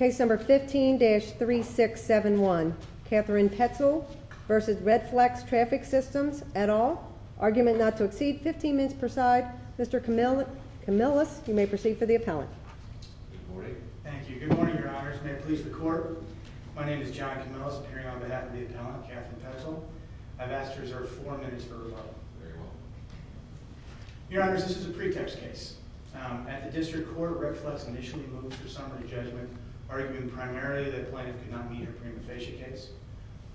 15-3671, Catherine Petzel v. Redflex Traffic Systems, et al., Argument Not to Exceed, 15 minutes per side. Mr. Camillus, you may proceed for the appellant. Good morning. Thank you. Good morning, your honors. May it please the court. My name is John Camillus, appearing on behalf of the appellant, Catherine Petzel. I've asked to Your honors, this is a pretext case. At the district court, Redflex initially moved her summary judgment, arguing primarily that the plaintiff could not meet her prima facie case.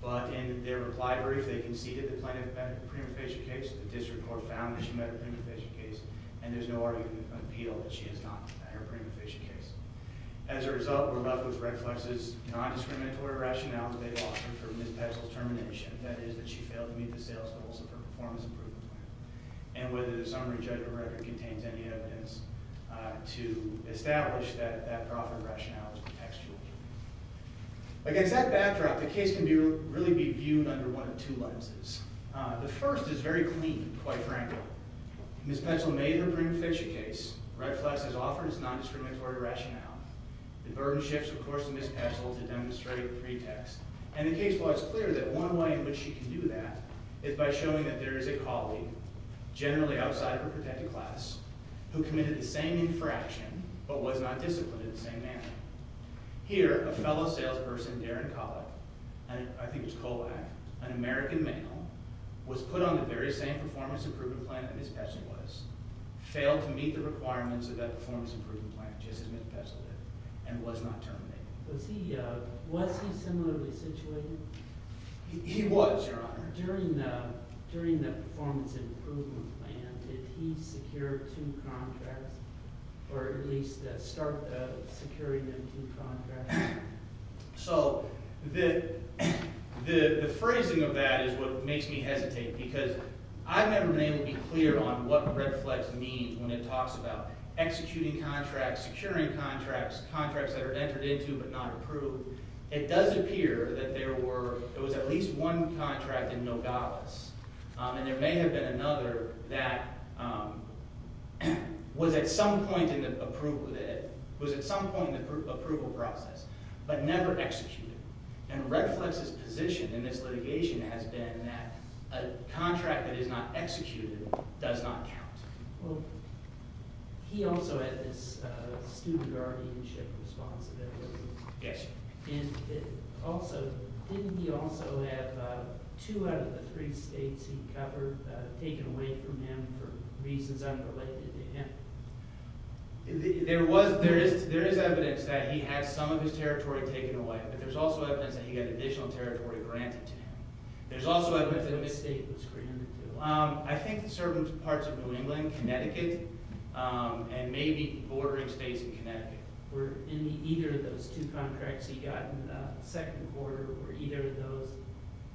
But in their reply brief, they conceded the plaintiff met her prima facie case, the district court found that she met her prima facie case, and there's no argument of appeal that she has not met her prima facie case. As a result, we're left with Redflex's non-discriminatory rationale that they've offered for Ms. Petzel's termination, that is, that she failed to meet the sales goals of her performance improvement plan, and whether the summary judgment record contains any evidence to establish that that profit rationale is contextual. Against that backdrop, the case can really be viewed under one of two lenses. The first is very clean, quite frankly. Ms. Petzel made her prima facie case. Redflex has offered its non-discriminatory rationale. The burden shifts, of course, to Ms. Petzel to demonstrate the pretext. And the case was clear that one way in which she can do that is by showing that there is a colleague, generally outside of her protected class, who committed the same infraction, but was not disciplined in the same manner. Here, a fellow salesperson, Darren Collick, and I think it was Colback, an American male, was put on the very same performance improvement plan that Ms. Petzel was, failed to meet the requirements of that performance improvement plan, just as Ms. Petzel did, and was not disciplined in it. Was he similarly situated? He was, Your Honor. During the performance improvement plan, did he secure two contracts, or at least start securing them two contracts? So, the phrasing of that is what makes me hesitate, because I've never been able to be clear on what Redflex means when it talks about executing contracts, securing contracts, contracts that are entered into but not approved. It does appear that there was at least one contract in Nogales, and there may have been another that was at some point in the approval process, but never executed. And Redflex's position in this litigation has been that a contract that is not executed does not count. Well, he also had this student guardianship responsibility. Yes, sir. And also, didn't he also have two out of the three states he covered taken away from him for reasons unrelated to him? There was, there is evidence that he had some of his territory taken away, but there's also evidence that he had additional territory granted to him. There's also evidence that the state was granted to him. I think certain parts of New England, Connecticut, and maybe bordering states in Connecticut. Were either of those two contracts he got in the second quarter, were either of those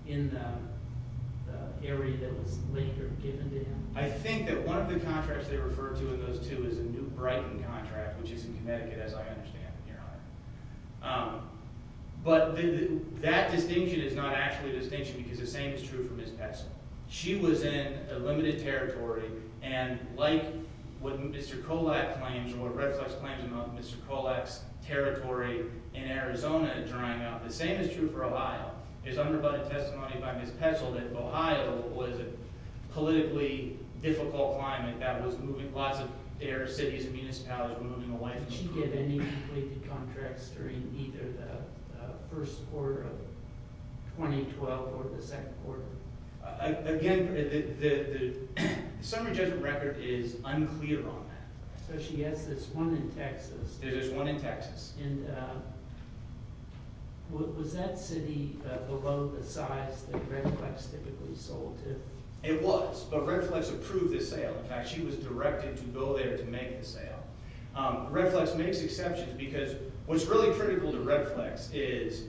in the area that was later given to him? I think that one of the contracts they refer to in those two is the New Brighton contract, which is in Connecticut, as I understand, Your Honor. But that distinction is not actually a distinction because the same is true for Ms. Petzel. She was in a limited territory, and like what Mr. Kolak claims, or what Redflex claims about Mr. Kolak's territory in Arizona drying up, the same is true for Ohio. There's undercutted testimony by Ms. Petzel that Ohio was a politically difficult climate that was moving lots of their cities and municipalities Did she get any completed contracts during either the first quarter of 2012 or the second quarter? Again, the summary judgment record is unclear on that. So she has this one in Texas. There's this one in Texas. Was that city below the size that Redflex typically sold to? It was, but Redflex approved the sale. In fact, she was directed to go there to make the sale. Redflex makes exceptions because what's really critical to Redflex is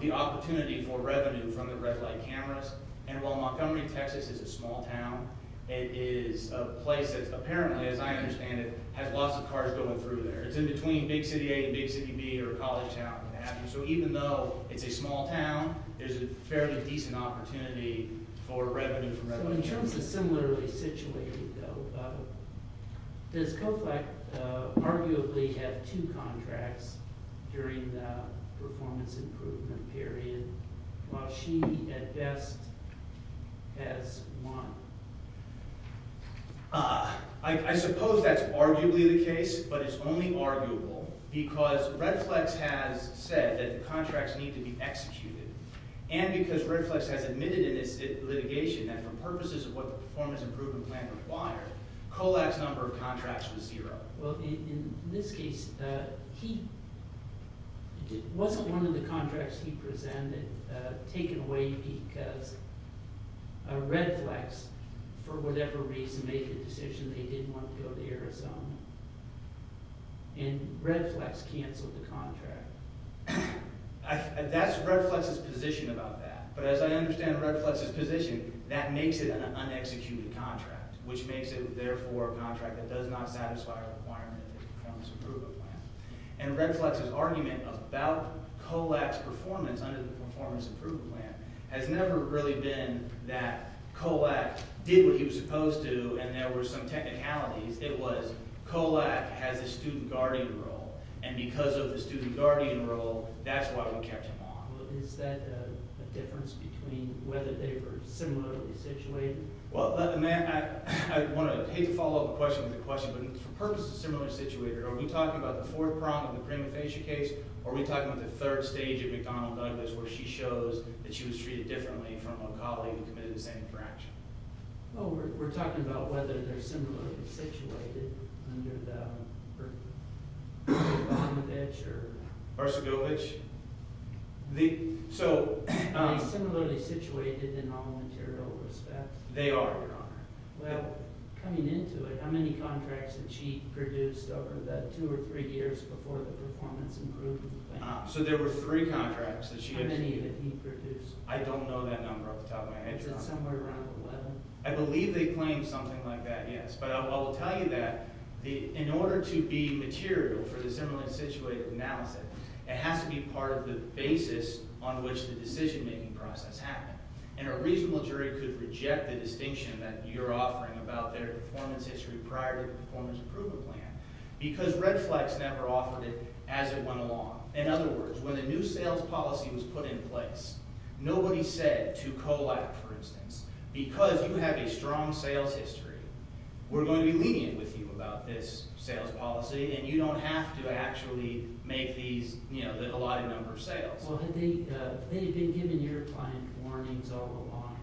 the opportunity for revenue from the red light cameras, and while Montgomery, Texas is a small town, it is a place that apparently, as I understand it, has lots of cars going through there. It's in between Big City A and Big City B or College Town. So even though it's a small town, there's a fairly decent opportunity for revenue from Redflex. So in Does COFLEX arguably have two contracts during the performance improvement period while she at best has one? I suppose that's arguably the case, but it's only arguable because Redflex has said that the contracts need to be executed, and because Redflex has admitted in its litigation that for purposes of what the performance improvement plan required, COFLEX's number of contracts was zero. Well, in this case, it wasn't one of the contracts he presented taken away because Redflex, for whatever reason, made the decision they didn't want to go to Arizona, and Redflex canceled the contract. That's Redflex's position about that, but as I understand Redflex's position, that makes it an unexecuted contract, which makes it, therefore, a contract that does not satisfy a requirement of the performance improvement plan, and Redflex's argument about COFLEX's performance under the performance improvement plan has never really been that COFLEX did what he was supposed to, and there were some technicalities. It was COFLEX has a student guardian role, and because of the difference between whether they were similarly situated. Well, may I, I want to, I hate to follow up a question with a question, but for purposes of similarly situated, are we talking about the fourth prong of the prima facie case, or are we talking about the third stage of McDonnell-Douglas, where she shows that she was treated differently from a colleague who committed the same infraction? Well, we're talking about whether they're similarly situated under the Bercovitch or Bercovitch. Are they similarly situated in all material respects? They are, Your Honor. Well, coming into it, how many contracts did she produce over the two or three years before the performance improvement plan? So, there were three contracts that she received. How many did he produce? I don't know that number off the top of my head, Your Honor. Is it somewhere around 11? I believe they claimed something like that, yes, but I will tell you that in order to be material for the similarly situated analysis, it has to be part of the basis on which the decision-making process happened, and a reasonable jury could reject the distinction that you're offering about their performance history prior to the performance improvement plan, because Redflex never offered it as it went along. In other words, when a new sales policy was put in place, nobody said to Collap, for instance, because you have a strong sales history, we're going to be lenient with you about this sales policy, and you don't have to actually make these, you know, the allotted number of sales. Well, had they been giving your client warnings all along?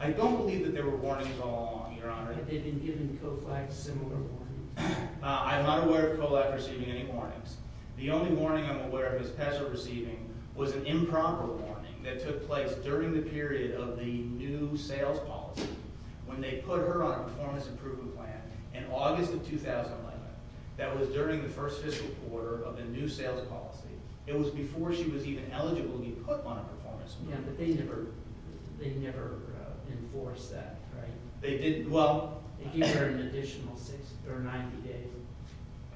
I don't believe that there were warnings all along, Your Honor. Had they been giving COFLAC similar warnings? I'm not aware of COFLAC receiving any warnings. The only warning I'm aware of is PESA receiving was an improper warning that took place during the period of the new sales policy when they put her on a performance improvement plan in August of 2011. That was during the first fiscal quarter of the new sales policy. It was before she was even eligible to be put on a performance improvement plan. Yeah, but they never enforced that, right? They didn't. They gave her an additional 60 or 90 days.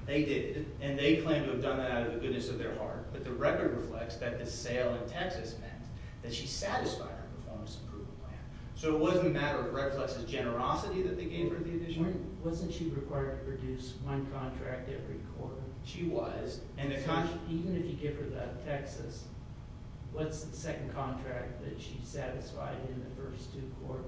They did, and they claim to have done that out of the goodness of their heart, but the record reflects that the sale in Texas meant that she satisfied her performance improvement plan. So it wasn't a matter of Redflex's generosity that they gave her the additional… Wasn't she required to produce one contract every quarter? She was. Even if you give her that in Texas, what's the second contract that she satisfied in the first two quarters?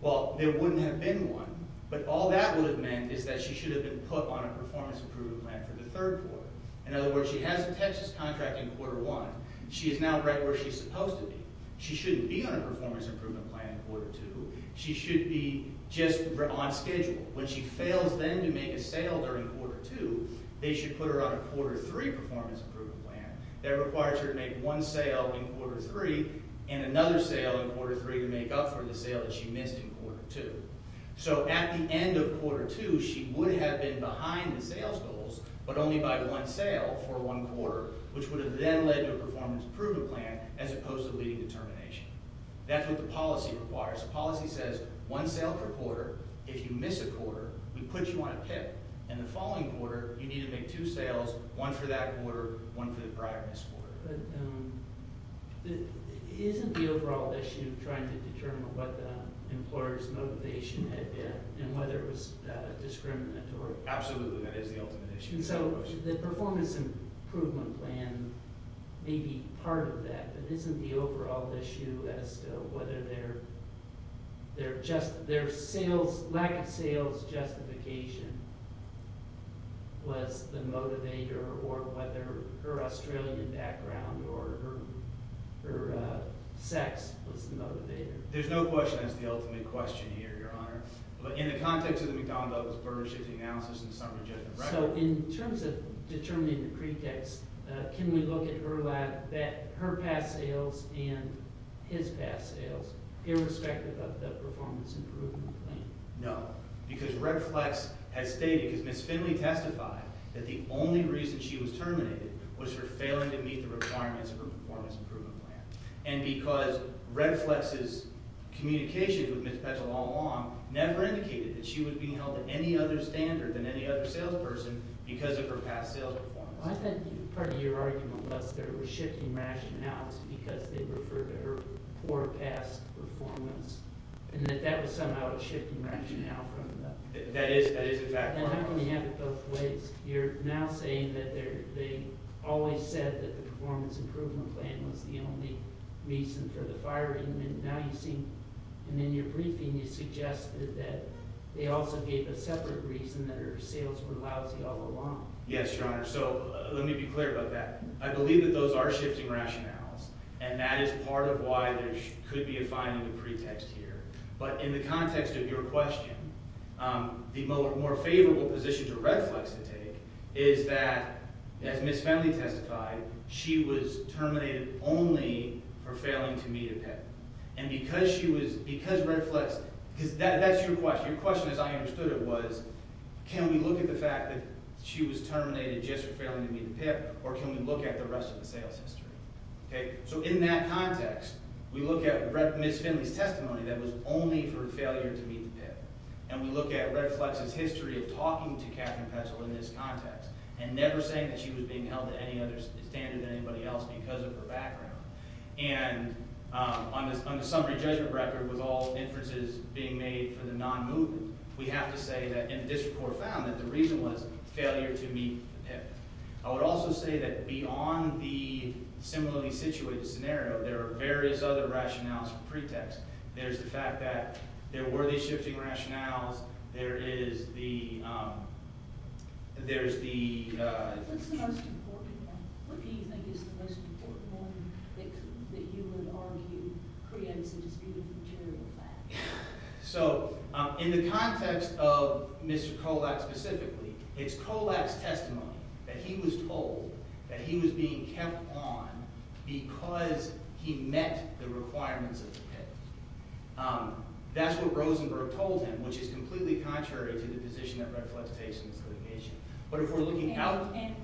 Well, there wouldn't have been one, but all that would have meant is that she should have been put on a performance improvement plan for the third quarter. In other words, she has a Texas contract in quarter one. She is now right where she's supposed to be. She shouldn't be on a performance improvement plan in quarter two. She should be just on schedule. When she fails then to make a sale during quarter two, they should put her on a quarter three performance improvement plan. That requires her to make one sale in quarter three and another sale in quarter three to make up for the sale that she missed in quarter two. So at the end of quarter two, she would have been behind the sales goals, but only by one sale for one quarter, which would have then led to a performance improvement plan as opposed to leading determination. That's what the policy requires. The policy says one sale per quarter. If you miss a quarter, we put you on a PIP. In the following quarter, you need to make two sales, one for that quarter, one for the prior missed quarter. But isn't the overall issue trying to determine what the employer's motivation had been and whether it was discriminatory? Absolutely, that is the ultimate issue. So the performance improvement plan may be part of that, but isn't the overall issue as to whether their lack of sales justification was the motivator or whether her Australian background or her sex was the motivator? There's no question that's the ultimate question here, Your Honor. But in the context of the McDonald's partnership analysis and summary judgment record... So in terms of determining the pretext, can we look at her past sales and his past sales irrespective of the performance improvement plan? No. Because Red Flex has stated, because Ms. Finley testified that the only reason she was terminated was for failing to meet the requirements of her performance improvement plan. And because Red Flex's communications with Ms. Petzl all along never indicated that she was being held at any other standard than any other salesperson because of her past sales performance. Well, I think part of your argument was that it was shifting rationales because they referred to her poor past performance and that that was somehow a shifting rationale from the... That is, that is exactly right. And not only have it both ways, you're now saying that they always said that the performance improvement plan was the only reason for the firing. And in your briefing, you suggested that they also gave a separate reason that her sales were lousy all along. Yes, Your Honor. So let me be clear about that. I believe that those are shifting rationales, and that is part of why there could be a finding of pretext here. But in the context of your question, the more favorable position for Red Flex to take is that, as Ms. Finley testified, she was terminated only for failing to meet a PIP. And because she was... Because Red Flex... Because that's your question. Your question, as I understood it, was can we look at the fact that she was terminated just for failing to meet a PIP, or can we look at the rest of the sales history? Okay? So in that context, we look at Ms. Finley's testimony that was only for failure to meet a PIP. And we look at Red Flex's history of talking to Catherine Petzl in this context and never saying that she was being held at any other standard than anybody else because of her background. And on the summary judgment record, with all inferences being made for the non-movement, we have to say that... And the district court found that the reason was failure to meet a PIP. I would also say that beyond the similarly situated scenario, there are various other rationales for pretext. There's the fact that there were these shifting rationales. There is the... There's the... What's the most important one? What do you think is the most important one that you would argue creates a disputed material fact? So in the context of Mr. Kolak specifically, it's Kolak's testimony that he was told that he was being kept on because he met the requirements of the PIP. That's what Rosenberg told him, which is completely contrary to the position that Red Flex takes in this litigation. But if we're looking out... And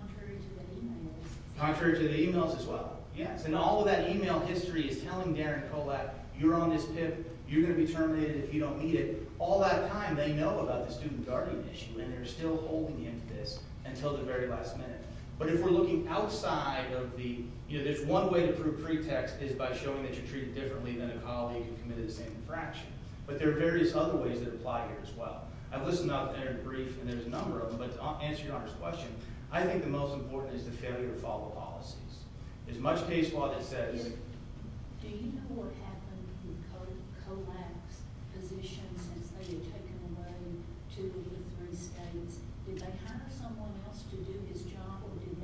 contrary to the e-mails. Contrary to the e-mails as well. Yes. And all of that e-mail history is telling Darren Kolak, you're on this PIP, you're going to be terminated if you don't meet it. All that time, they know about the student guardian issue, and they're still holding him to this until the very last minute. But if we're looking outside of the... You know, there's one way to prove pretext is by showing that you're treated differently than a colleague who committed the same infraction. But there are various other ways that apply here as well. I've listened to the entire brief, and there's a number of them, but to answer your Honor's question, I think the most important is the failure to follow policies. As much case law that says... Do you know what happened with Kolak's position since they were taken away to the Lutheran states? Did they hire someone else to do his job, or was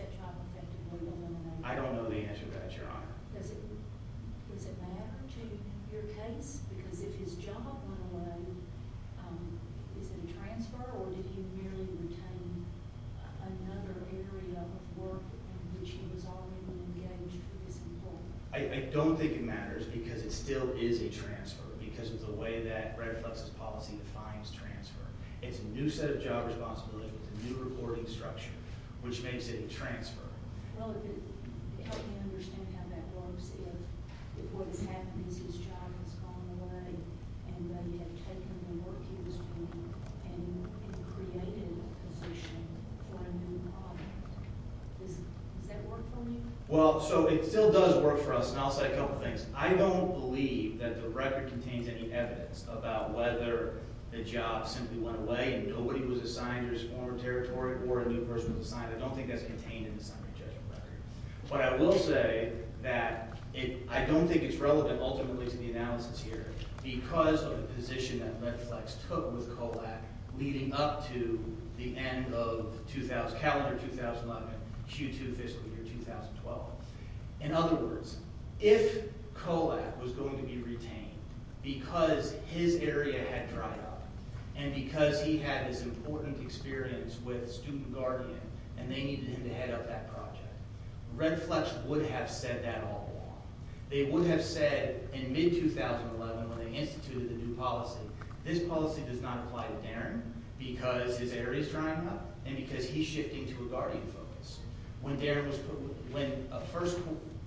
that job effectively eliminated? I don't know the answer to that, Your Honor. Does it matter to your case? Because if his job went away, is it a transfer, or did he merely retain another area of work in which he was already engaged for this employment? I don't think it matters, because it still is a transfer, because of the way that Red Flux's policy defines transfer. It's a new set of job responsibilities, a new reporting structure, which makes it a transfer. Well, if it helped you understand how that works, if what has happened is his job has gone away, and that he had taken the work he was doing and created a position for a new product, does that work for you? Well, so it still does work for us, and I'll say a couple things. I don't believe that the record contains any evidence about whether the job simply went away, and nobody was assigned to his former territory, or a new person was assigned. I don't think that's contained in the summary judgment record. But I will say that I don't think it's relevant, ultimately, to the analysis here, because of the position that Red Flux took with Kolak leading up to the end of calendar 2011, Q2 fiscal year 2012. In other words, if Kolak was going to be retained because his area had dried up, and because he had this important experience with Student Guardian, and they needed him to head up that project, Red Flux would have said that all along. They would have said, in mid-2011, when they instituted the new policy, this policy does not apply to Darren, because his area is drying up, and because he's shifting to a Guardian focus. When Darren was put – when the first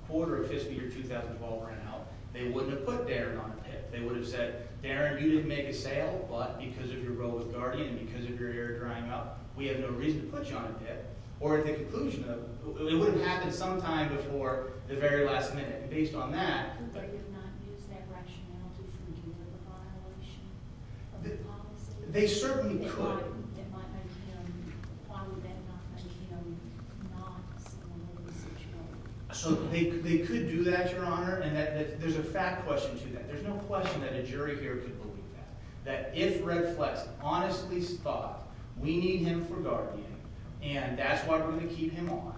quarter of fiscal year 2012 ran out, they wouldn't have put Darren on a pit. They would have said, Darren, you didn't make a sale, but because of your role with Guardian and because of your area drying up, we have no reason to put you on a pit. Or at the conclusion of – it would have happened sometime before the very last minute. And based on that – So they could do that, Your Honor, and there's a fact question to that. There's no question that a jury here could believe that. That if Red Flux honestly thought, we need him for Guardian, and that's why we're going to keep him on,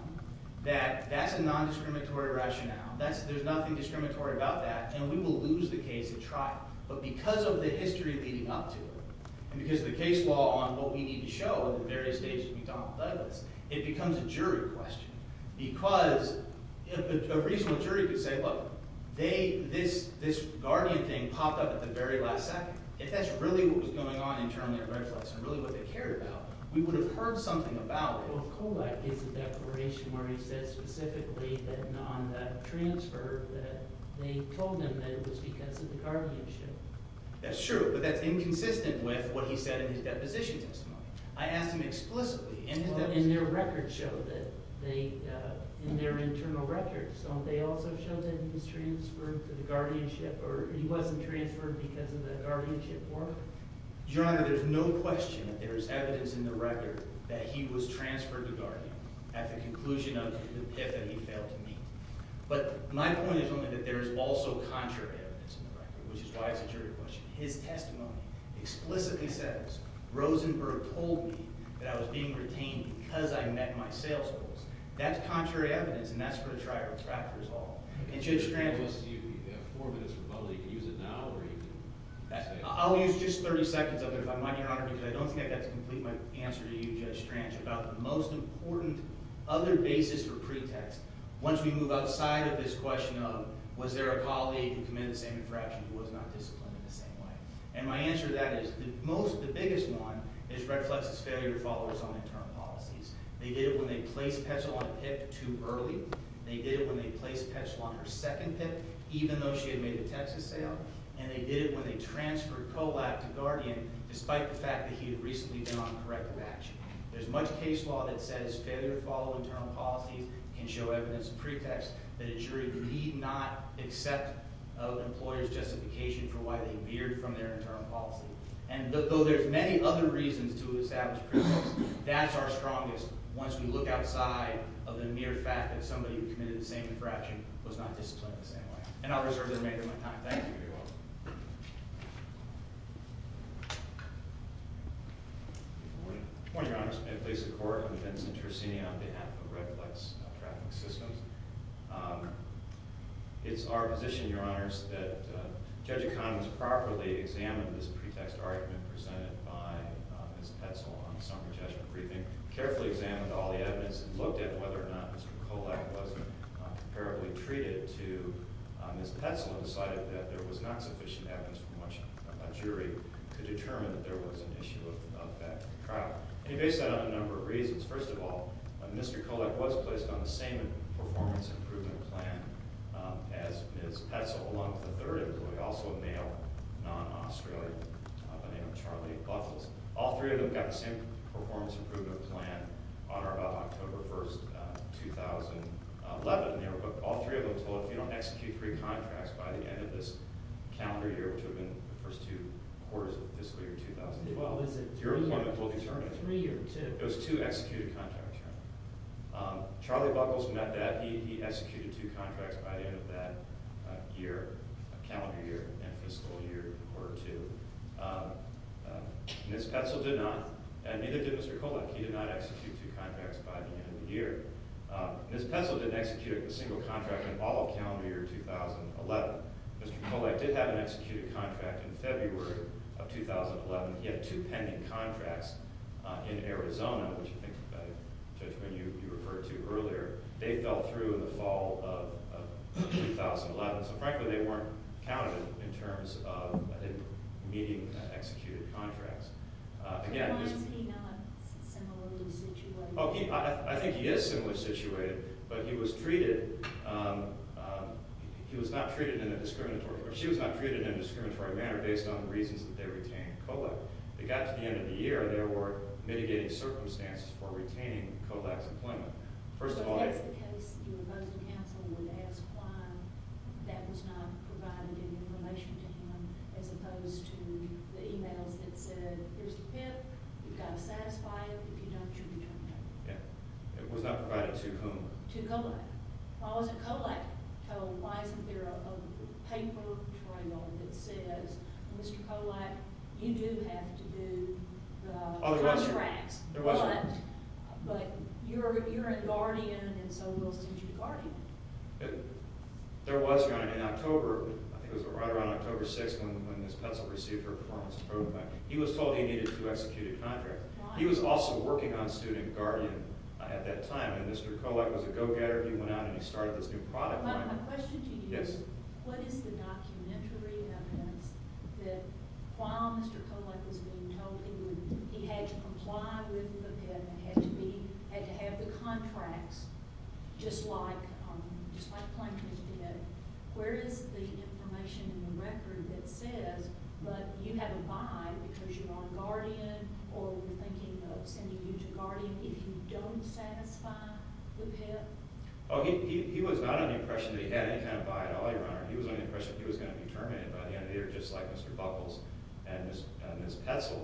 that that's a non-discriminatory rationale. There's nothing discriminatory about that, and we will lose the case at trial. But because of the history leading up to it, and because of the case law on what we need to show at the various stages of McDonnell Douglas, it becomes a jury question. Because a reasonable jury could say, look, they – this Guardian thing popped up at the very last second. If that's really what was going on internally at Red Flux and really what they cared about, we would have heard something about it. The trial of Kolak is a declaration where he says specifically that on that transfer that they told him that it was because of the Guardianship. That's true, but that's inconsistent with what he said in his deposition testimony. I asked him explicitly in his – Well, in their records show that they – in their internal records, don't they also show that he was transferred to the Guardianship or he wasn't transferred because of the Guardianship war? Your Honor, there's no question that there is evidence in the record that he was transferred to Guardianship at the conclusion of the PIF that he failed to meet. But my point is only that there is also contrary evidence in the record, which is why it's a jury question. His testimony explicitly says Rosenberg told me that I was being retained because I met my sales goals. That's contrary evidence, and that's where the trial of Trafford is all. And Judge Scranton – You have four minutes for public. You can use it now or you can – I'll use just 30 seconds of it if I might, Your Honor, because I don't think I've got to complete my answer to you, Judge Scranton, about the most important other basis or pretext once we move outside of this question of was there a colleague who committed the same infraction who was not disciplined in the same way. And my answer to that is the most – the biggest one is Redflex's failure to follow his own internal policies. They did it when they placed Petzl on a PIF too early. They did it when they placed Petzl on her second PIF even though she had made the Texas sale, and they did it when they transferred Kollab to Guardian despite the fact that he had recently been on corrective action. There's much case law that says failure to follow internal policies can show evidence of pretext that a jury need not accept an employer's justification for why they veered from their internal policy. And though there's many other reasons to establish pretext, that's our strongest place once we look outside of the mere fact that somebody who committed the same infraction was not disciplined in the same way. And I'll reserve the remainder of my time. Thank you. You're welcome. Good morning. Good morning, Your Honors. May it please the Court, I'm Vincent Tricini on behalf of Redflex Traffic Systems. It's our position, Your Honors, that Judge Economist properly examine this pretext argument presented by Ms. Petzl on the Summer Judgment Briefing, carefully examined all the evidence and looked at whether or not Mr. Kollab was comparably treated to Ms. Petzl and decided that there was not sufficient evidence from which a jury could determine that there was an issue of that trial. And he based that on a number of reasons. First of all, Mr. Kollab was placed on the same performance improvement plan as Ms. Petzl along with a third employee, also a male, non-Australian, by the name of Charlie Buckles. All three of them got the same performance improvement plan on or about October 1, 2011. All three of them told if you don't execute three contracts by the end of this calendar year, which would have been the first two quarters of fiscal year 2012, your employment will determine it. Three or two? It was two executed contracts, Your Honor. Charlie Buckles met that. He executed two contracts by the end of that year, calendar year, and fiscal year or two. Ms. Petzl did not, and neither did Mr. Kollab. He did not execute two contracts by the end of the year. Ms. Petzl didn't execute a single contract in all of calendar year 2011. Mr. Kollab did have an executed contract in February of 2011. He had two pending contracts in Arizona, which you think is a better judgment. You referred to earlier. They fell through in the fall of 2011. Frankly, they weren't counted in terms of meeting executed contracts. Was he not similarly situated? I think he is similarly situated, but he was treated – he was not treated in a discriminatory – or she was not treated in a discriminatory manner based on the reasons that they retained Kollab. They got to the end of the year. There were mitigating circumstances for retaining Kollab's employment. First of all – So if that's the case, your opposing counsel would ask why that was not provided in relation to him as opposed to the emails that said, here's the PIP. You've got to satisfy it. If you don't, you can turn it down. Yeah. It was not provided to whom? To Kollab. Why wasn't Kollab told? Why isn't there a paper trail that says, Mr. Kollab, you do have to do the contracts. There was one. But you're in Guardian, and so we'll send you to Guardian. There was one in October. I think it was right around October 6th when Ms. Petzl received her performance program. He was told he needed two executed contracts. Why? He was also working on student Guardian at that time. And Mr. Kollab was a go-getter. He went out and he started this new product line. My question to you is – Yes? What is the documentary evidence that while Mr. Kollab was being told he had to comply with the PIP and had to have the contracts just like Plankton did, where is the information in the record that says, but you have to buy because you're on Guardian or we're thinking of sending you to Guardian if you don't satisfy the PIP? Oh, he was not on the impression that he had any kind of buy at all, Your Honor. He was on the impression he was going to be terminated by the end of the year just like Mr. Buckles and Ms. Petzl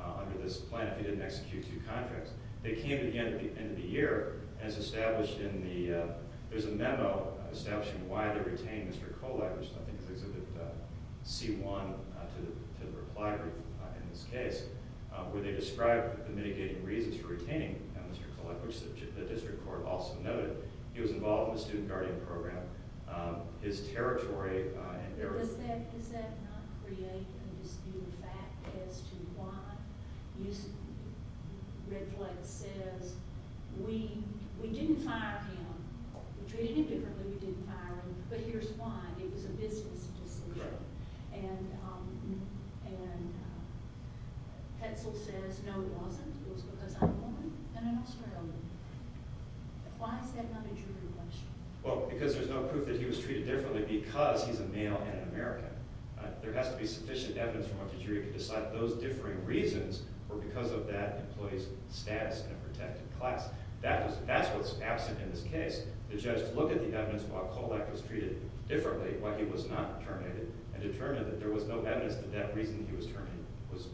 under this plan if he didn't execute two contracts. They came at the end of the year, and it's established in the – there's a memo establishing why they retained Mr. Kollab, which I think is Exhibit C1 to the reply group in this case, where they describe the mitigating reasons for retaining Mr. Kollab, which the district court also noted. He was involved in the student guardian program. His territory and – Does that not create a disputed fact as to why Red Flag says, we didn't fire him. We treated him differently, we didn't fire him, but here's why. It was a business decision. And Petzl says, no, it wasn't. It was because I'm a woman and an Australian. Why is that not a jury question? Well, because there's no proof that he was treated differently because he's a male and an American. There has to be sufficient evidence from a jury to decide those differing reasons were because of that employee's status in a protected class. That's what's absent in this case. The judge looked at the evidence why Kollab was treated differently, why he was not terminated and determined that there was no evidence that that reason he was terminated was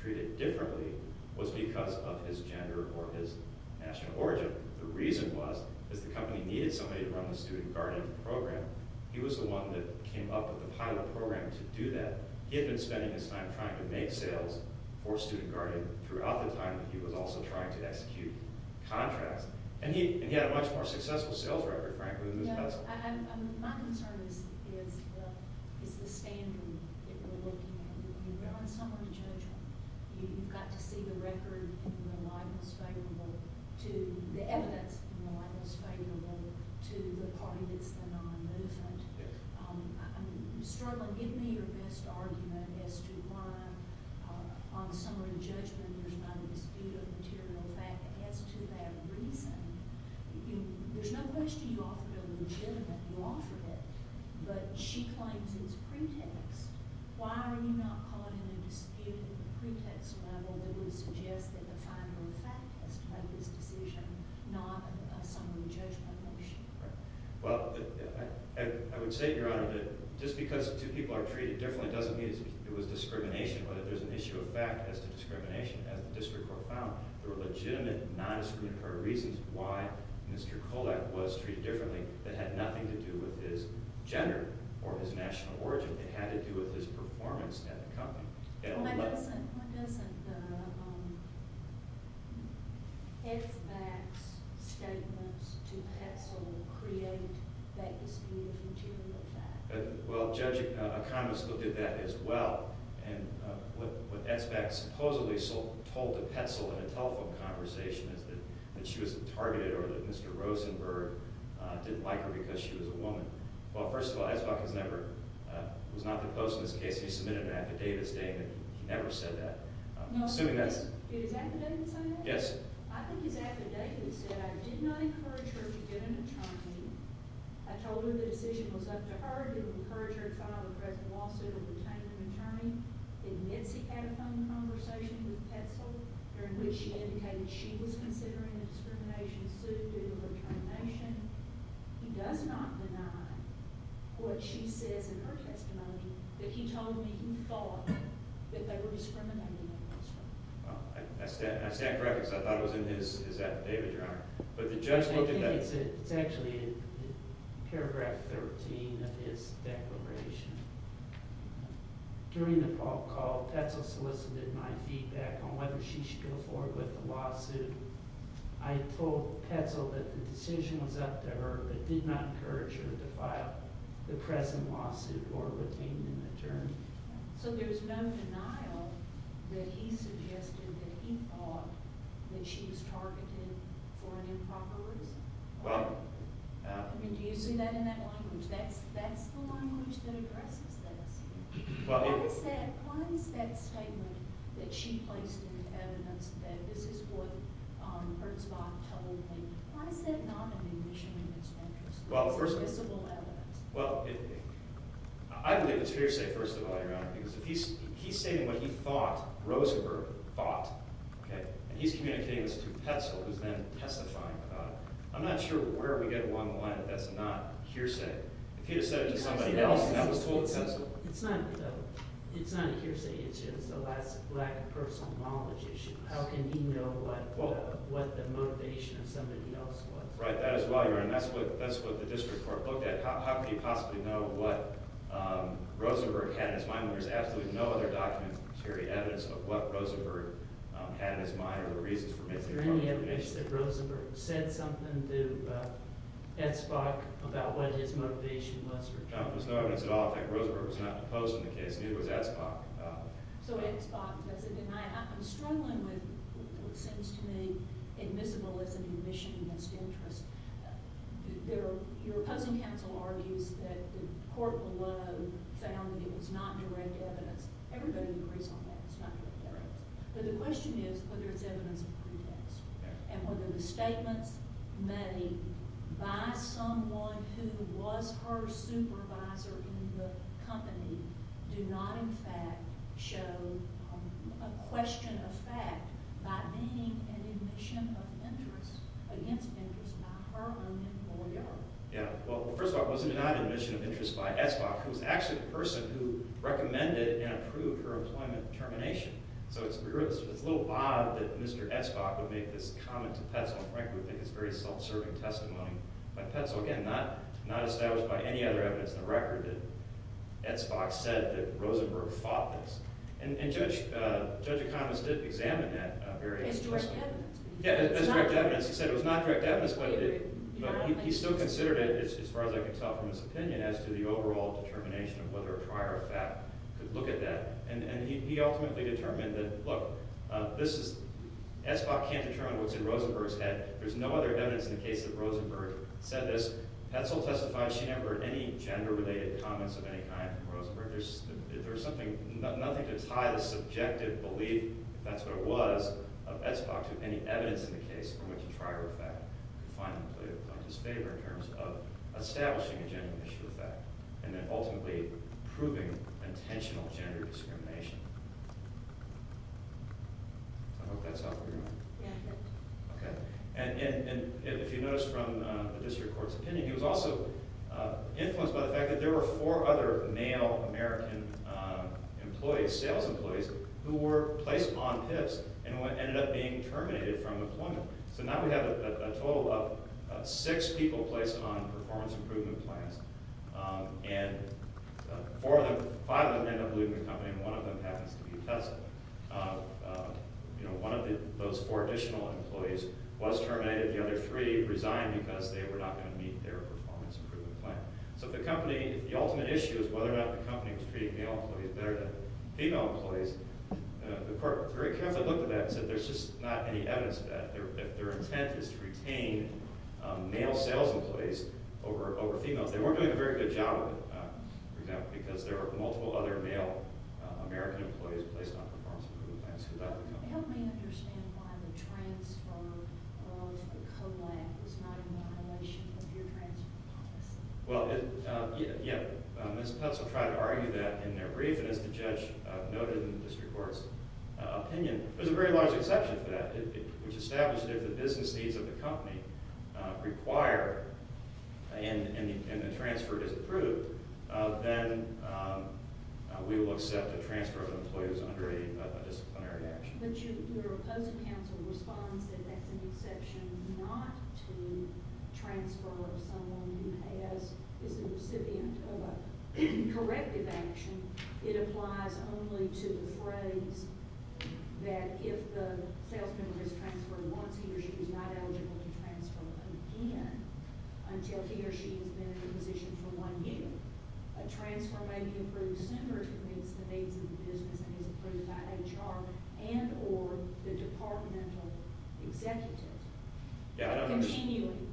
treated differently was because of his gender or his national origin. The reason was, is the company needed somebody to run the student guardian program. He was the one that came up with the pilot program to do that. He had been spending his time trying to make sales for student guardian throughout the time that he was also trying to execute contracts. And he had a much more successful sales record, frankly, than Mr. Petzl. So my concern is the standard that we're looking at. You're on summary judgment. You've got to see the record in the light that's favorable to the evidence in the light that's favorable to the party that's the non-movement. Yes. I'm struggling. Give me your best argument as to why on summary judgment there's not a dispute of material fact as to that reason. There's no question you offered a legitimate law for that. But she claims it's pretext. Why are you not calling it a dispute at the pretext level that would suggest that the final fact has to make this decision, not a summary judgment motion? Well, I would say, Your Honor, that just because two people are treated differently doesn't mean it was discrimination. But if there's an issue of fact as to discrimination, as the district court found, there were legitimate non-discriminatory reasons why Mr. Kulak was treated differently that had nothing to do with his gender or his national origin. It had to do with his performance at the company. Why doesn't Ezback's statements to Petzl create that dispute of material fact? Well, Judge Economist looked at that as well. And what Ezback supposedly told to Petzl in a telephone conversation is that she was targeted or that Mr. Rosenberg didn't like her because she was a woman. Well, first of all, Ezback was not the post in this case. He submitted an affidavit stating that he never said that. No. Did his affidavit say that? Yes. I think his affidavit said, I did not encourage her to get an attorney. I told her the decision was up to her. I told her to encourage her to file a press lawsuit and retain an attorney. In Mitzi's telephone conversation with Petzl, during which she indicated she was considering a discrimination suit due to her determination, he does not deny what she says in her testimony that he told me he thought that they were discriminating against her. I stand corrected because I thought it was in his affidavit, Your Honor. I think it's actually paragraph 13 of his declaration. During the phone call, Petzl solicited my feedback on whether she should go forward with the lawsuit. I told Petzl that the decision was up to her but did not encourage her to file the present lawsuit or retain an attorney. So there's no denial that he suggested that he thought that she was targeted for an improper reason? Well... I mean, do you see that in that language? That's the language that addresses this. Why is that statement that she placed in the evidence that this is what Hertzbach told me, why is that not an admission in its entirety? Well, first of all... It's visible evidence. Well, I believe it's hearsay first of all, Your Honor, because if he's saying what he thought, Rosenberg thought, and he's communicating this to Petzl, who's then testifying about it, I'm not sure where we get along the line that that's not hearsay. If he had said it to somebody else and that was told to Petzl... It's not hearsay, it's just a lack of personal knowledge issue. How can he know what the motivation of somebody else was? Right, that as well, Your Honor, and that's what the district court looked at. How could he possibly know what Rosenberg had in his mind when there's absolutely no other documents that carry evidence of what Rosenberg had in his mind or the reasons for making a comment? Is there any evidence that Rosenberg said something to Hertzbach about what his motivation was? No, there's no evidence at all. In fact, Rosenberg was not opposed to the case, neither was Hertzbach. So Hertzbach doesn't deny it. I'm struggling with what seems to me admissible as an admission against interest. Your opposing counsel argues that the court below found that it was not direct evidence. Everybody agrees on that. It's not direct evidence. But the question is whether it's evidence of pretext and whether the statements made by someone who was her supervisor in the company do not in fact show a question of fact by denying an admission of interest against interest by her own employer. Yeah, well, first of all, it wasn't denied an admission of interest by Hertzbach, who was actually the person who recommended and approved her employment termination. So it's a little odd that Mr. Hertzbach would make this comment to Petzl and frankly would think it's very self-serving testimony. But Petzl, again, not established by any other evidence in the record that Hertzbach said that Rosenberg fought this. And Judge Economist did examine that. As direct evidence? Yeah, as direct evidence. He said it was not direct evidence, but he still considered it, as far as I can tell from his opinion, as to the overall determination of whether a prior fact could look at that. And he ultimately determined that, look, Hertzbach can't determine what's in Rosenberg's head. There's no other evidence in the case that Rosenberg said this. Petzl testifies she never had any gender-related comments of any kind from Rosenberg. There's nothing to tie the subjective belief, if that's what it was, of Hertzbach to any evidence in the case from which a prior fact could finally play the plaintiff's favor in terms of establishing a gender issue with that and then ultimately proving intentional gender discrimination. I hope that's helpful. Yeah. OK. And if you notice from the district court's opinion, he was also influenced by the fact that there were four other male American employees, sales employees, who were placed on PIPSC and ended up being terminated from employment. So now we have a total of six people placed on performance improvement plans, and five of them end up leaving the company, and one of them happens to be Petzl. One of those four additional employees was terminated. The other three resigned because they were not going to meet their performance improvement plan. So if the company, if the ultimate issue is whether or not the company was treating male employees better than female employees, the court very carefully looked at that and said there's just not any evidence of that. If their intent is to retain male sales employees over females, they weren't doing a very good job of it, for example, because there were multiple other male American employees placed on performance improvement plans who left the company. Help me understand why the transfer of COLAG was not in violation of your transfer policy. Well, yeah, Ms. Petzl tried to argue that in their brief, and as the judge noted in the district court's opinion, there's a very large exception to that, which established that if the business needs of the company require, and the transfer is approved, then we will accept a transfer of employees under a disciplinary action. But your opposing counsel responds that that's an exception not to transfer of someone who has, is a recipient of a corrective action. It applies only to the phrase that if the salesman has transferred once, he or she is not eligible to transfer again until he or she has been in a position for one year. A transfer may be approved sooner if it meets the needs of the business and is approved by HR and or the departmental executive. Continuing,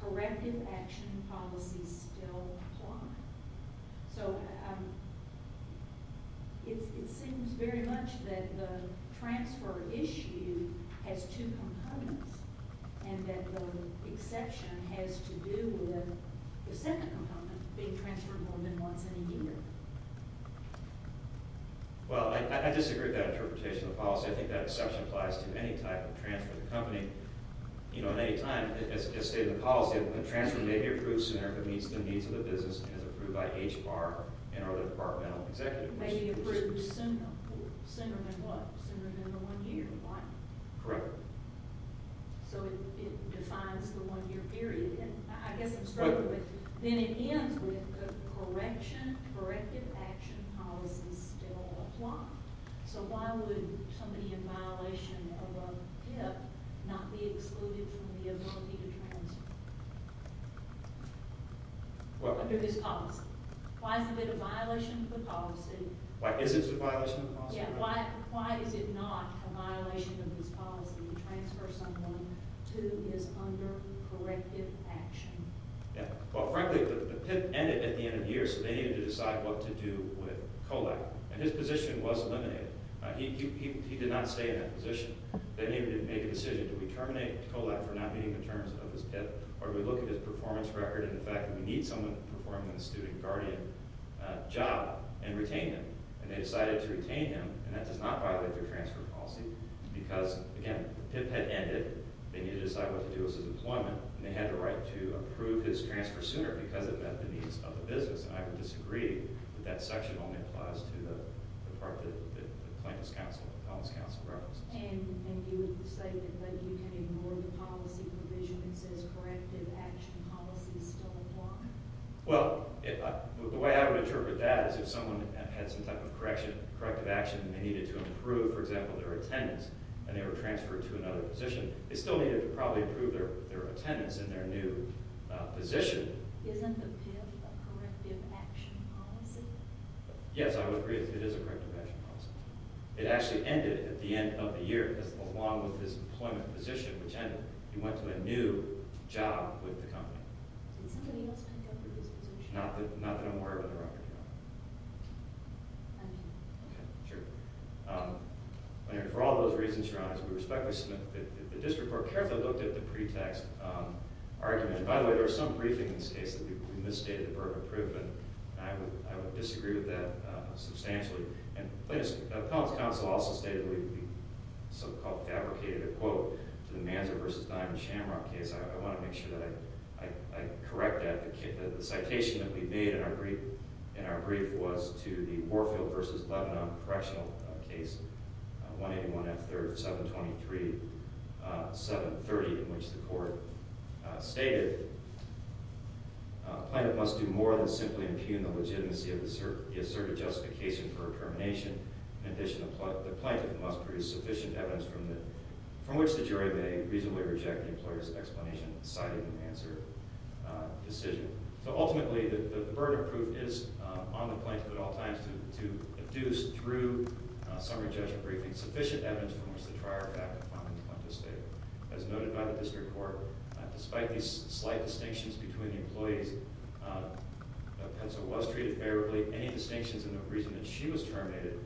corrective action policies still apply. So it seems very much that the transfer issue has two components, and that the exception has to do with the second component, being transferred more than once in a year. Well, I disagree with that interpretation of the policy. I think that exception applies to any type of transfer of the company. You know, at any time, as stated in the policy, a transfer may be approved sooner if it meets the needs of the business and is approved by HR and or the departmental executive. It may be approved sooner than what? Sooner than the one year? Correct. So it defines the one year period, and I guess I'm struggling with it. It begins with the corrective action policies still apply. So why would somebody in violation of a PIP not be excluded from the ability to transfer under this policy? Why is it a violation of the policy? Why isn't it a violation of the policy? Yeah, why is it not a violation of this policy to transfer someone who is under corrective action? Well, frankly, the PIP ended at the end of the year, so they needed to decide what to do with COLEC, and his position was eliminated. He did not stay in that position. They needed to make a decision. Do we terminate COLEC for not meeting the terms of his PIP, or do we look at his performance record and the fact that we need someone performing the student guardian job and retain him? And they decided to retain him, and that does not violate their transfer policy because, again, the PIP had ended. They needed to decide what to do with his employment, and they had the right to approve his transfer sooner because it met the needs of the business, and I would disagree that that section only applies to the part that the plaintiff's counsel, the felon's counsel references. And you would say that you can ignore the policy provision that says corrective action policies still apply? Well, the way I would interpret that is if someone had some type of corrective action that they needed to improve, for example, their attendance, and they were transferred to another position, they still needed to probably improve their attendance in their new position. Isn't the PIP a corrective action policy? Yes, I would agree that it is a corrective action policy. It actually ended at the end of the year because along with his employment position, which ended, he went to a new job with the company. Did somebody else take over his position? Not that I'm aware of, but there are other people. I'm here. Okay, sure. Anyway, for all those reasons, Your Honor, we respectfully submit that the district court carefully looked at the pretext argument. By the way, there was some briefing in this case that we misstated the Berger improvement, and I would disagree with that substantially. And the plaintiff's, the felon's counsel also stated that we so-called fabricated a quote to the Manzo v. Diamond-Chamron case. I want to make sure that I correct that. The citation that we made in our brief was to the Warfield v. Lebanon correctional case 181 F. 3rd, 723, 730, in which the court stated, Plaintiff must do more than simply impugn the legitimacy of the asserted justification for a termination. In addition, the plaintiff must produce sufficient evidence from which the jury may reasonably reject the employer's explanation, citing an answer decision. So ultimately, the Berger proof is on the plaintiff at all times to induce, through summary judgment briefing, sufficient evidence from which to try our fact upon the plaintiff's statement. As noted by the district court, despite these slight distinctions between the employees, Petzo was treated favorably. Any distinctions in the reason that she was terminated,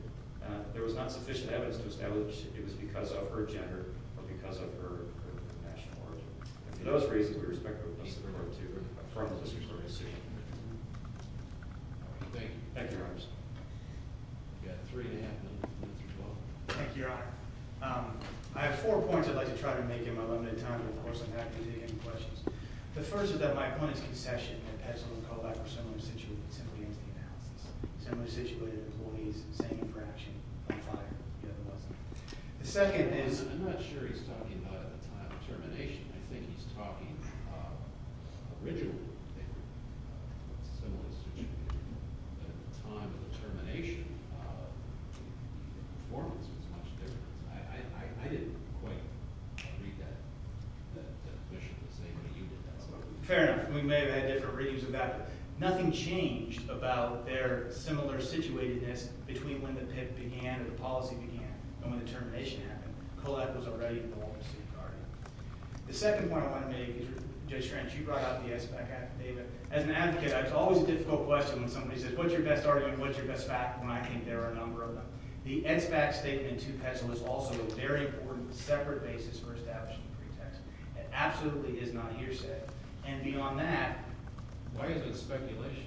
there was not sufficient evidence to establish it was because of her gender or because of her national origin. For those reasons, we respectfully request that the court to affirm the district court's decision. Thank you. Thank you, Your Honor. We've got three and a half minutes left. Thank you, Your Honor. I have four points I'd like to try to make in my limited time, but of course I'm happy to take any questions. The first is that my point is concession, that Petzo and Kovach were similarly situated in the analysis, similarly situated employees, standing for action on fire, The second is, I'm not sure he's talking about at the time of termination. I think he's talking about originally they were similarly situated. But at the time of the termination, the performance was much different. I didn't quite agree that the commission was saying that you did that. Fair enough. We may have had different readings of that. But nothing changed about their similar situatedness between when the PIP began and when the policy began. And when the termination happened, Kovach was already involved in state bargaining. The second point I want to make, Judge French, you brought up the SBAC affidavit. As an advocate, it's always a difficult question when somebody says, what's your best argument, what's your best fact, when I think there are a number of them. The SBAC statement to Petzo is also a very important, separate basis for establishing pretext. It absolutely is not hearsay. And beyond that, why is it speculation?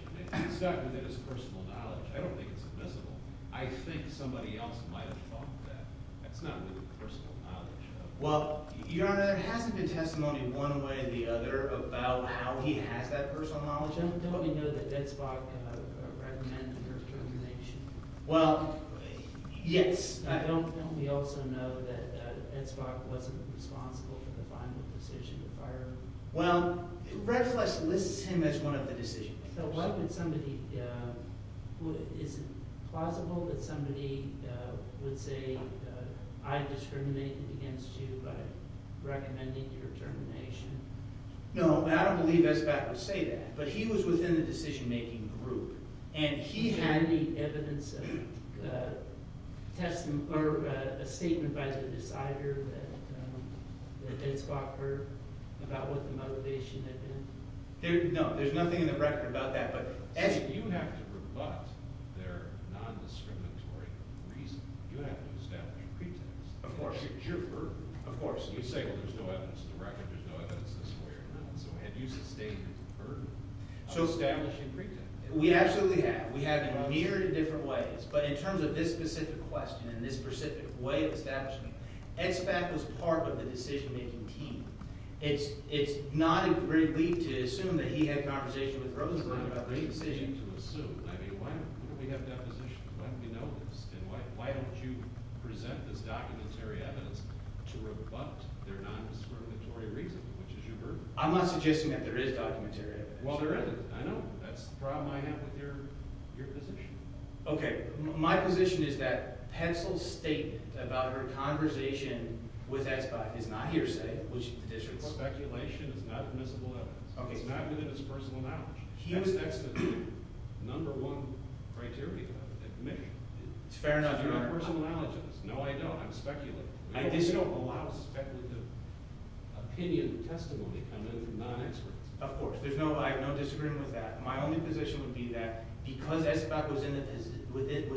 It's not within his personal knowledge. I don't think it's invisible. I think somebody else might have thought that. That's not within personal knowledge. Well, Your Honor, there hasn't been testimony one way or the other about how he has that personal knowledge. Don't we know that Ed Spock recommended the termination? Well, yes. Don't we also know that Ed Spock wasn't responsible for the final decision to fire him? Well, Red Flesh lists him as one of the decision-makers. So what if it's somebody who isn't plausible, that somebody would say, I discriminate against you by recommending your termination? No, and I don't believe SBAC would say that. But he was within the decision-making group. And he had the evidence of a statement by the decider that Ed Spock heard about what the motivation had been. No, there's nothing in the record about that. So you have to rebut their non-discriminatory reasoning. You have to establish a pretext. Of course. You say, well, there's no evidence in the record. There's no evidence this way or that way. So have you sustained a burden of establishing a pretext? We absolutely have. We have in a myriad of different ways. But in terms of this specific question and this specific way of establishing it, Ed Spock was part of the decision-making team. It's not a great leap to assume that he had conversation with Rosenblatt about this decision. It's not a great leap to assume. I mean, why don't we have deposition? Why don't we know this? And why don't you present this documentary evidence to rebut their non-discriminatory reasoning, which is your burden? I'm not suggesting that there is documentary evidence. Well, there isn't. I know. That's the problem I have with your position. OK. My position is that Petzl's statement about her conversation with Ed Spock is not hearsay, which the district's speculation is not admissible evidence. OK. It's not within his personal knowledge. That's the number one criteria of admission. It's fair enough. It's your personal knowledge of this. No, I don't. I'm speculating. I just don't allow speculative opinion testimony to come in from non-experts. Of course. I have no disagreement with that. My only position would be that because Ed Spock was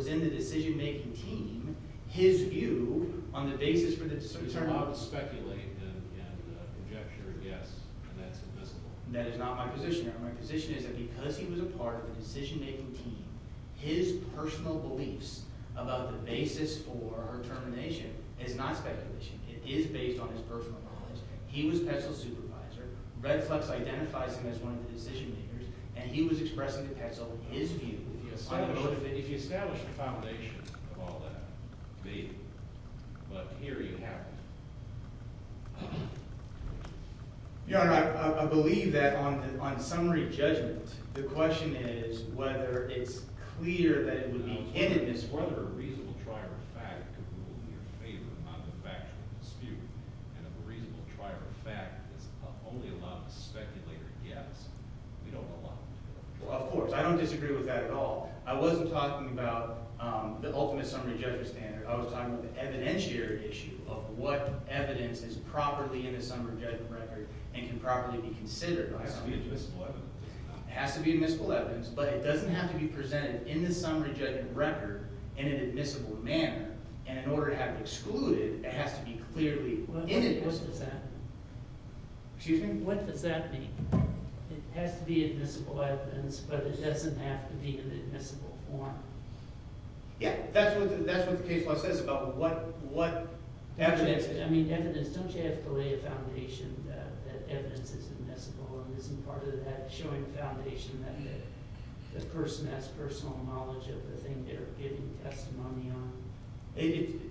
in the decision-making team, his view on the basis for the decision-making team. It's allowed to speculate and conjecture, yes. And that's admissible. That is not my position. My position is that because he was a part of the decision-making team, his personal beliefs about the basis for her termination is not speculation. It is based on his personal knowledge. He was Petzl's supervisor. Red Flex identifies him as one of the decision-makers. And he was expressing to Petzl his view. I don't know if you establish the foundation of all that. But here you have it. Your Honor, I believe that on summary judgment, the question is whether it's clear that it would be innocent, whether a reasonable trier of fact could rule in your favor on the factual dispute. And if a reasonable trier of fact is only allowed to speculate or guess, we don't allow it. Well, of course. I don't disagree with that at all. I wasn't talking about the ultimate summary judgment standard. I was talking about the evidentiary issue of what evidence is properly in the summary judgment record and can properly be considered. It has to be admissible evidence. It has to be admissible evidence. But it doesn't have to be presented in the summary judgment record in an admissible manner. And in order to have it excluded, it has to be clearly in it. What does that mean? Excuse me? What does that mean? It has to be admissible evidence, but it doesn't have to be in admissible form. Yeah. That's what the case law says about what evidence is. I mean, evidence. Don't you have to lay a foundation that evidence is admissible? And isn't part of that showing foundation that the person has personal knowledge of the thing they're giving testimony on?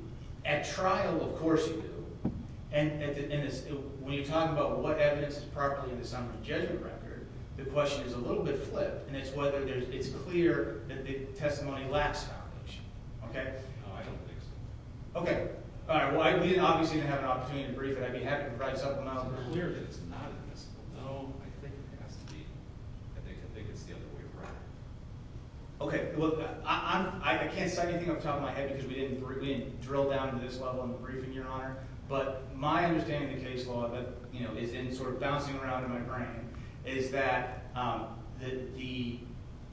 At trial, of course you do. And when you talk about what evidence is properly in the summary judgment record, the question is a little bit flipped. And it's whether it's clear that the testimony lacks foundation. OK? No, I don't think so. OK. All right, well, we obviously didn't have an opportunity to brief it. I'd be happy to write something out that's clear that it's not admissible. No, I think it has to be. I think it's the other way around. OK, well, I can't cite anything off the top of my head because we didn't drill down to this level in the briefing, Your Honor. But my understanding of the case law that is sort of bouncing around in my brain is that the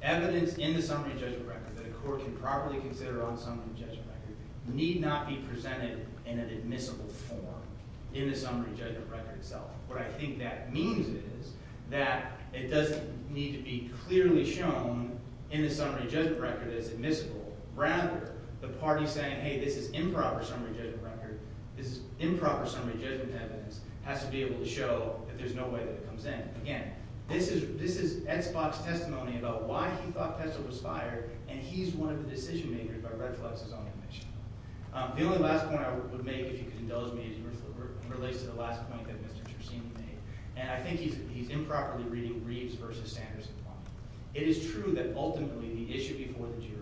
evidence in the summary judgment record that a court can properly consider on summary judgment record need not be presented in an admissible form in the summary judgment record itself. What I think that means is that it doesn't need to be clearly shown in the summary judgment record as admissible. Rather, the party saying, hey, this is improper summary judgment record, this is improper summary judgment evidence, has to be able to show that there's no way that it comes in. Again, this is Ed Spock's testimony about why he thought Petzl was fired, and he's one of the decision makers by reflexes on admission. The only last point I would make, if you could indulge me, relates to the last point that Mr. Chersini made. And I think he's improperly reading Reeves versus Sanderson's law. It is true that ultimately the issue before the jury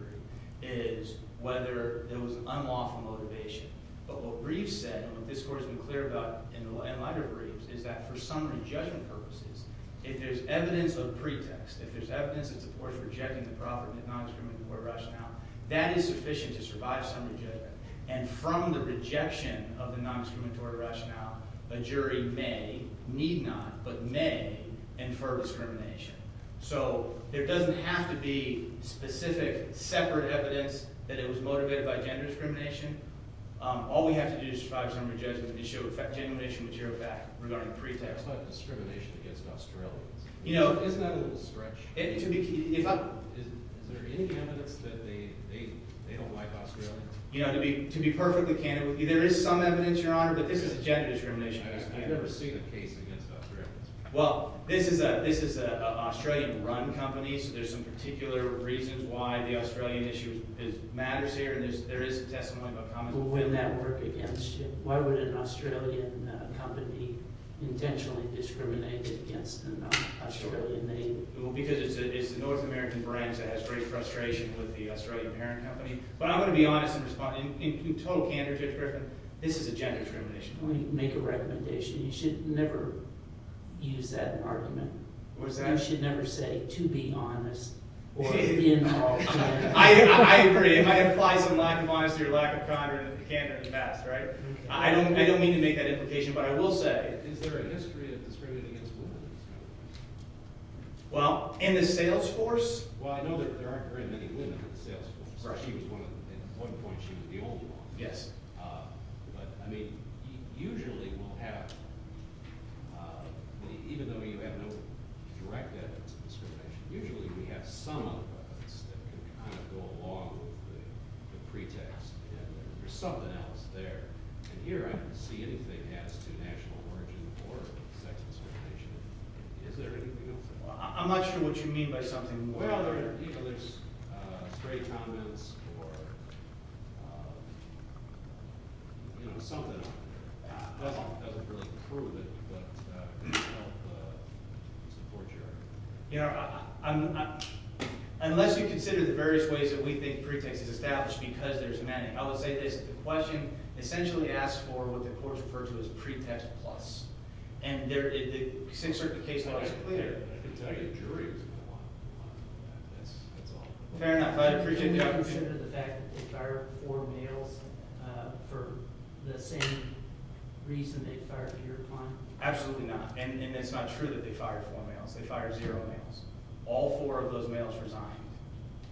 is whether there was an unlawful motivation. But what Reeves said, and what this court has been clear about in lighter Reeves, is that for summary judgment purposes, if there's evidence of pretext, if there's evidence that supports rejecting the profit in the non-discriminatory rationale, that is sufficient to survive summary judgment. And from the rejection of the non-discriminatory rationale, a jury may, need not, but may, infer discrimination. So there doesn't have to be specific, separate evidence that it was motivated by gender discrimination. All we have to do is survive summary judgment and the issue of effect discrimination would show up back regarding pretext. It's not discrimination against Australians. Isn't that a little stretch? Is there any evidence that they don't like Australians? To be perfectly candid with you, there is some evidence, Your Honor, but this is a gender discrimination case. I've never seen a case against Australians. Well, this is an Australian-run company, so there's some particular reasons why the Australian issue matters here, and there is some testimony about common... Well, wouldn't that work against you? Why would an Australian company intentionally discriminate against an Australian name? Well, because it's the North American brands that has great frustration with the Australian parent company. But I'm going to be honest in responding. In total candor, Judge Griffin, this is a gender discrimination. Well, you make a recommendation. You should never use that in an argument. You should never say, to be honest. I agree. I apply some lack of honesty or lack of condor to the candor in the past, right? I don't mean to make that implication, but I will say... Is there a history of discrimination against women in this country? Well, in the sales force? Well, I know that there aren't very many women in the sales force. At one point, she was the only one. Yes. But, I mean, usually we'll have... Even though you have no direct evidence of discrimination, usually we have some of us that can kind of go along with the pretext. And there's something else there. And here I don't see anything as to national origin or sex discrimination. Is there anything else? I'm not sure what you mean by something... Well, you know, there's stray comments or... You know, something. It doesn't really prove it, but it could help support your argument. You know, I'm... Unless you consider the various ways that we think pretext is established, because there's many, I will say this. The question essentially asks for what the courts refer to as pretext plus. And in certain cases... Fair enough. I appreciate your... Do you consider the fact that they fired four males for the same reason they fired your client? Absolutely not. And it's not true that they fired four males. They fired zero males. All four of those males resigned.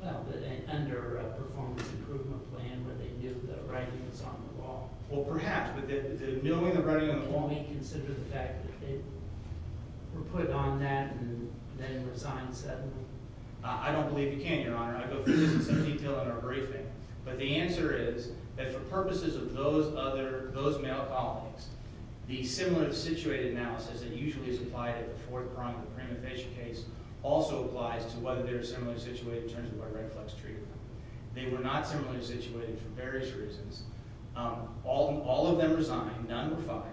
Well, but under a performance improvement plan, what they do, the writing is on the wall. Well, perhaps. But the milling and writing on the wall... Can we consider the fact that they were put on that and then resigned suddenly? I don't believe you can, Your Honor. I'd go through this in some detail in our briefing. But the answer is that for purposes of those other... those male colleagues, the similar situated analysis that usually is applied at the fourth prong of the prima facie case also applies to whether they're similarly situated in terms of a red-flex treatment. They were not similarly situated for various reasons. All of them resigned. None were fired.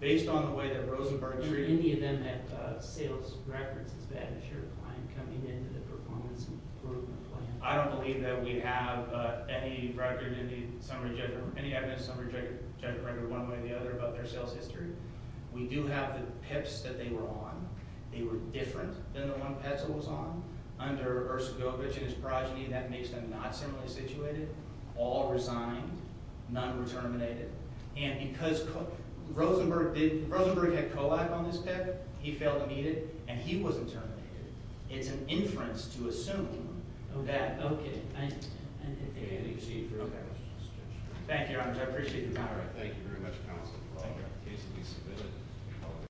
Based on the way that Rosenberg treated... Do any of them have sales records as bad as your client coming in to the performance improvement plan? I don't believe that we have any record in the summary judgment... about their sales history. We do have the PIPs that they were on. They were different than the one Petzl was on. Under Erskogovich and his progeny, that makes them not similarly situated. All resigned. None were terminated. And because Rosenberg did... Rosenberg had COLAB on his PIP. He failed to meet it. It's an inference to assume that... Okay. Thank you, Your Honor. Thank you very much. I appreciate your time.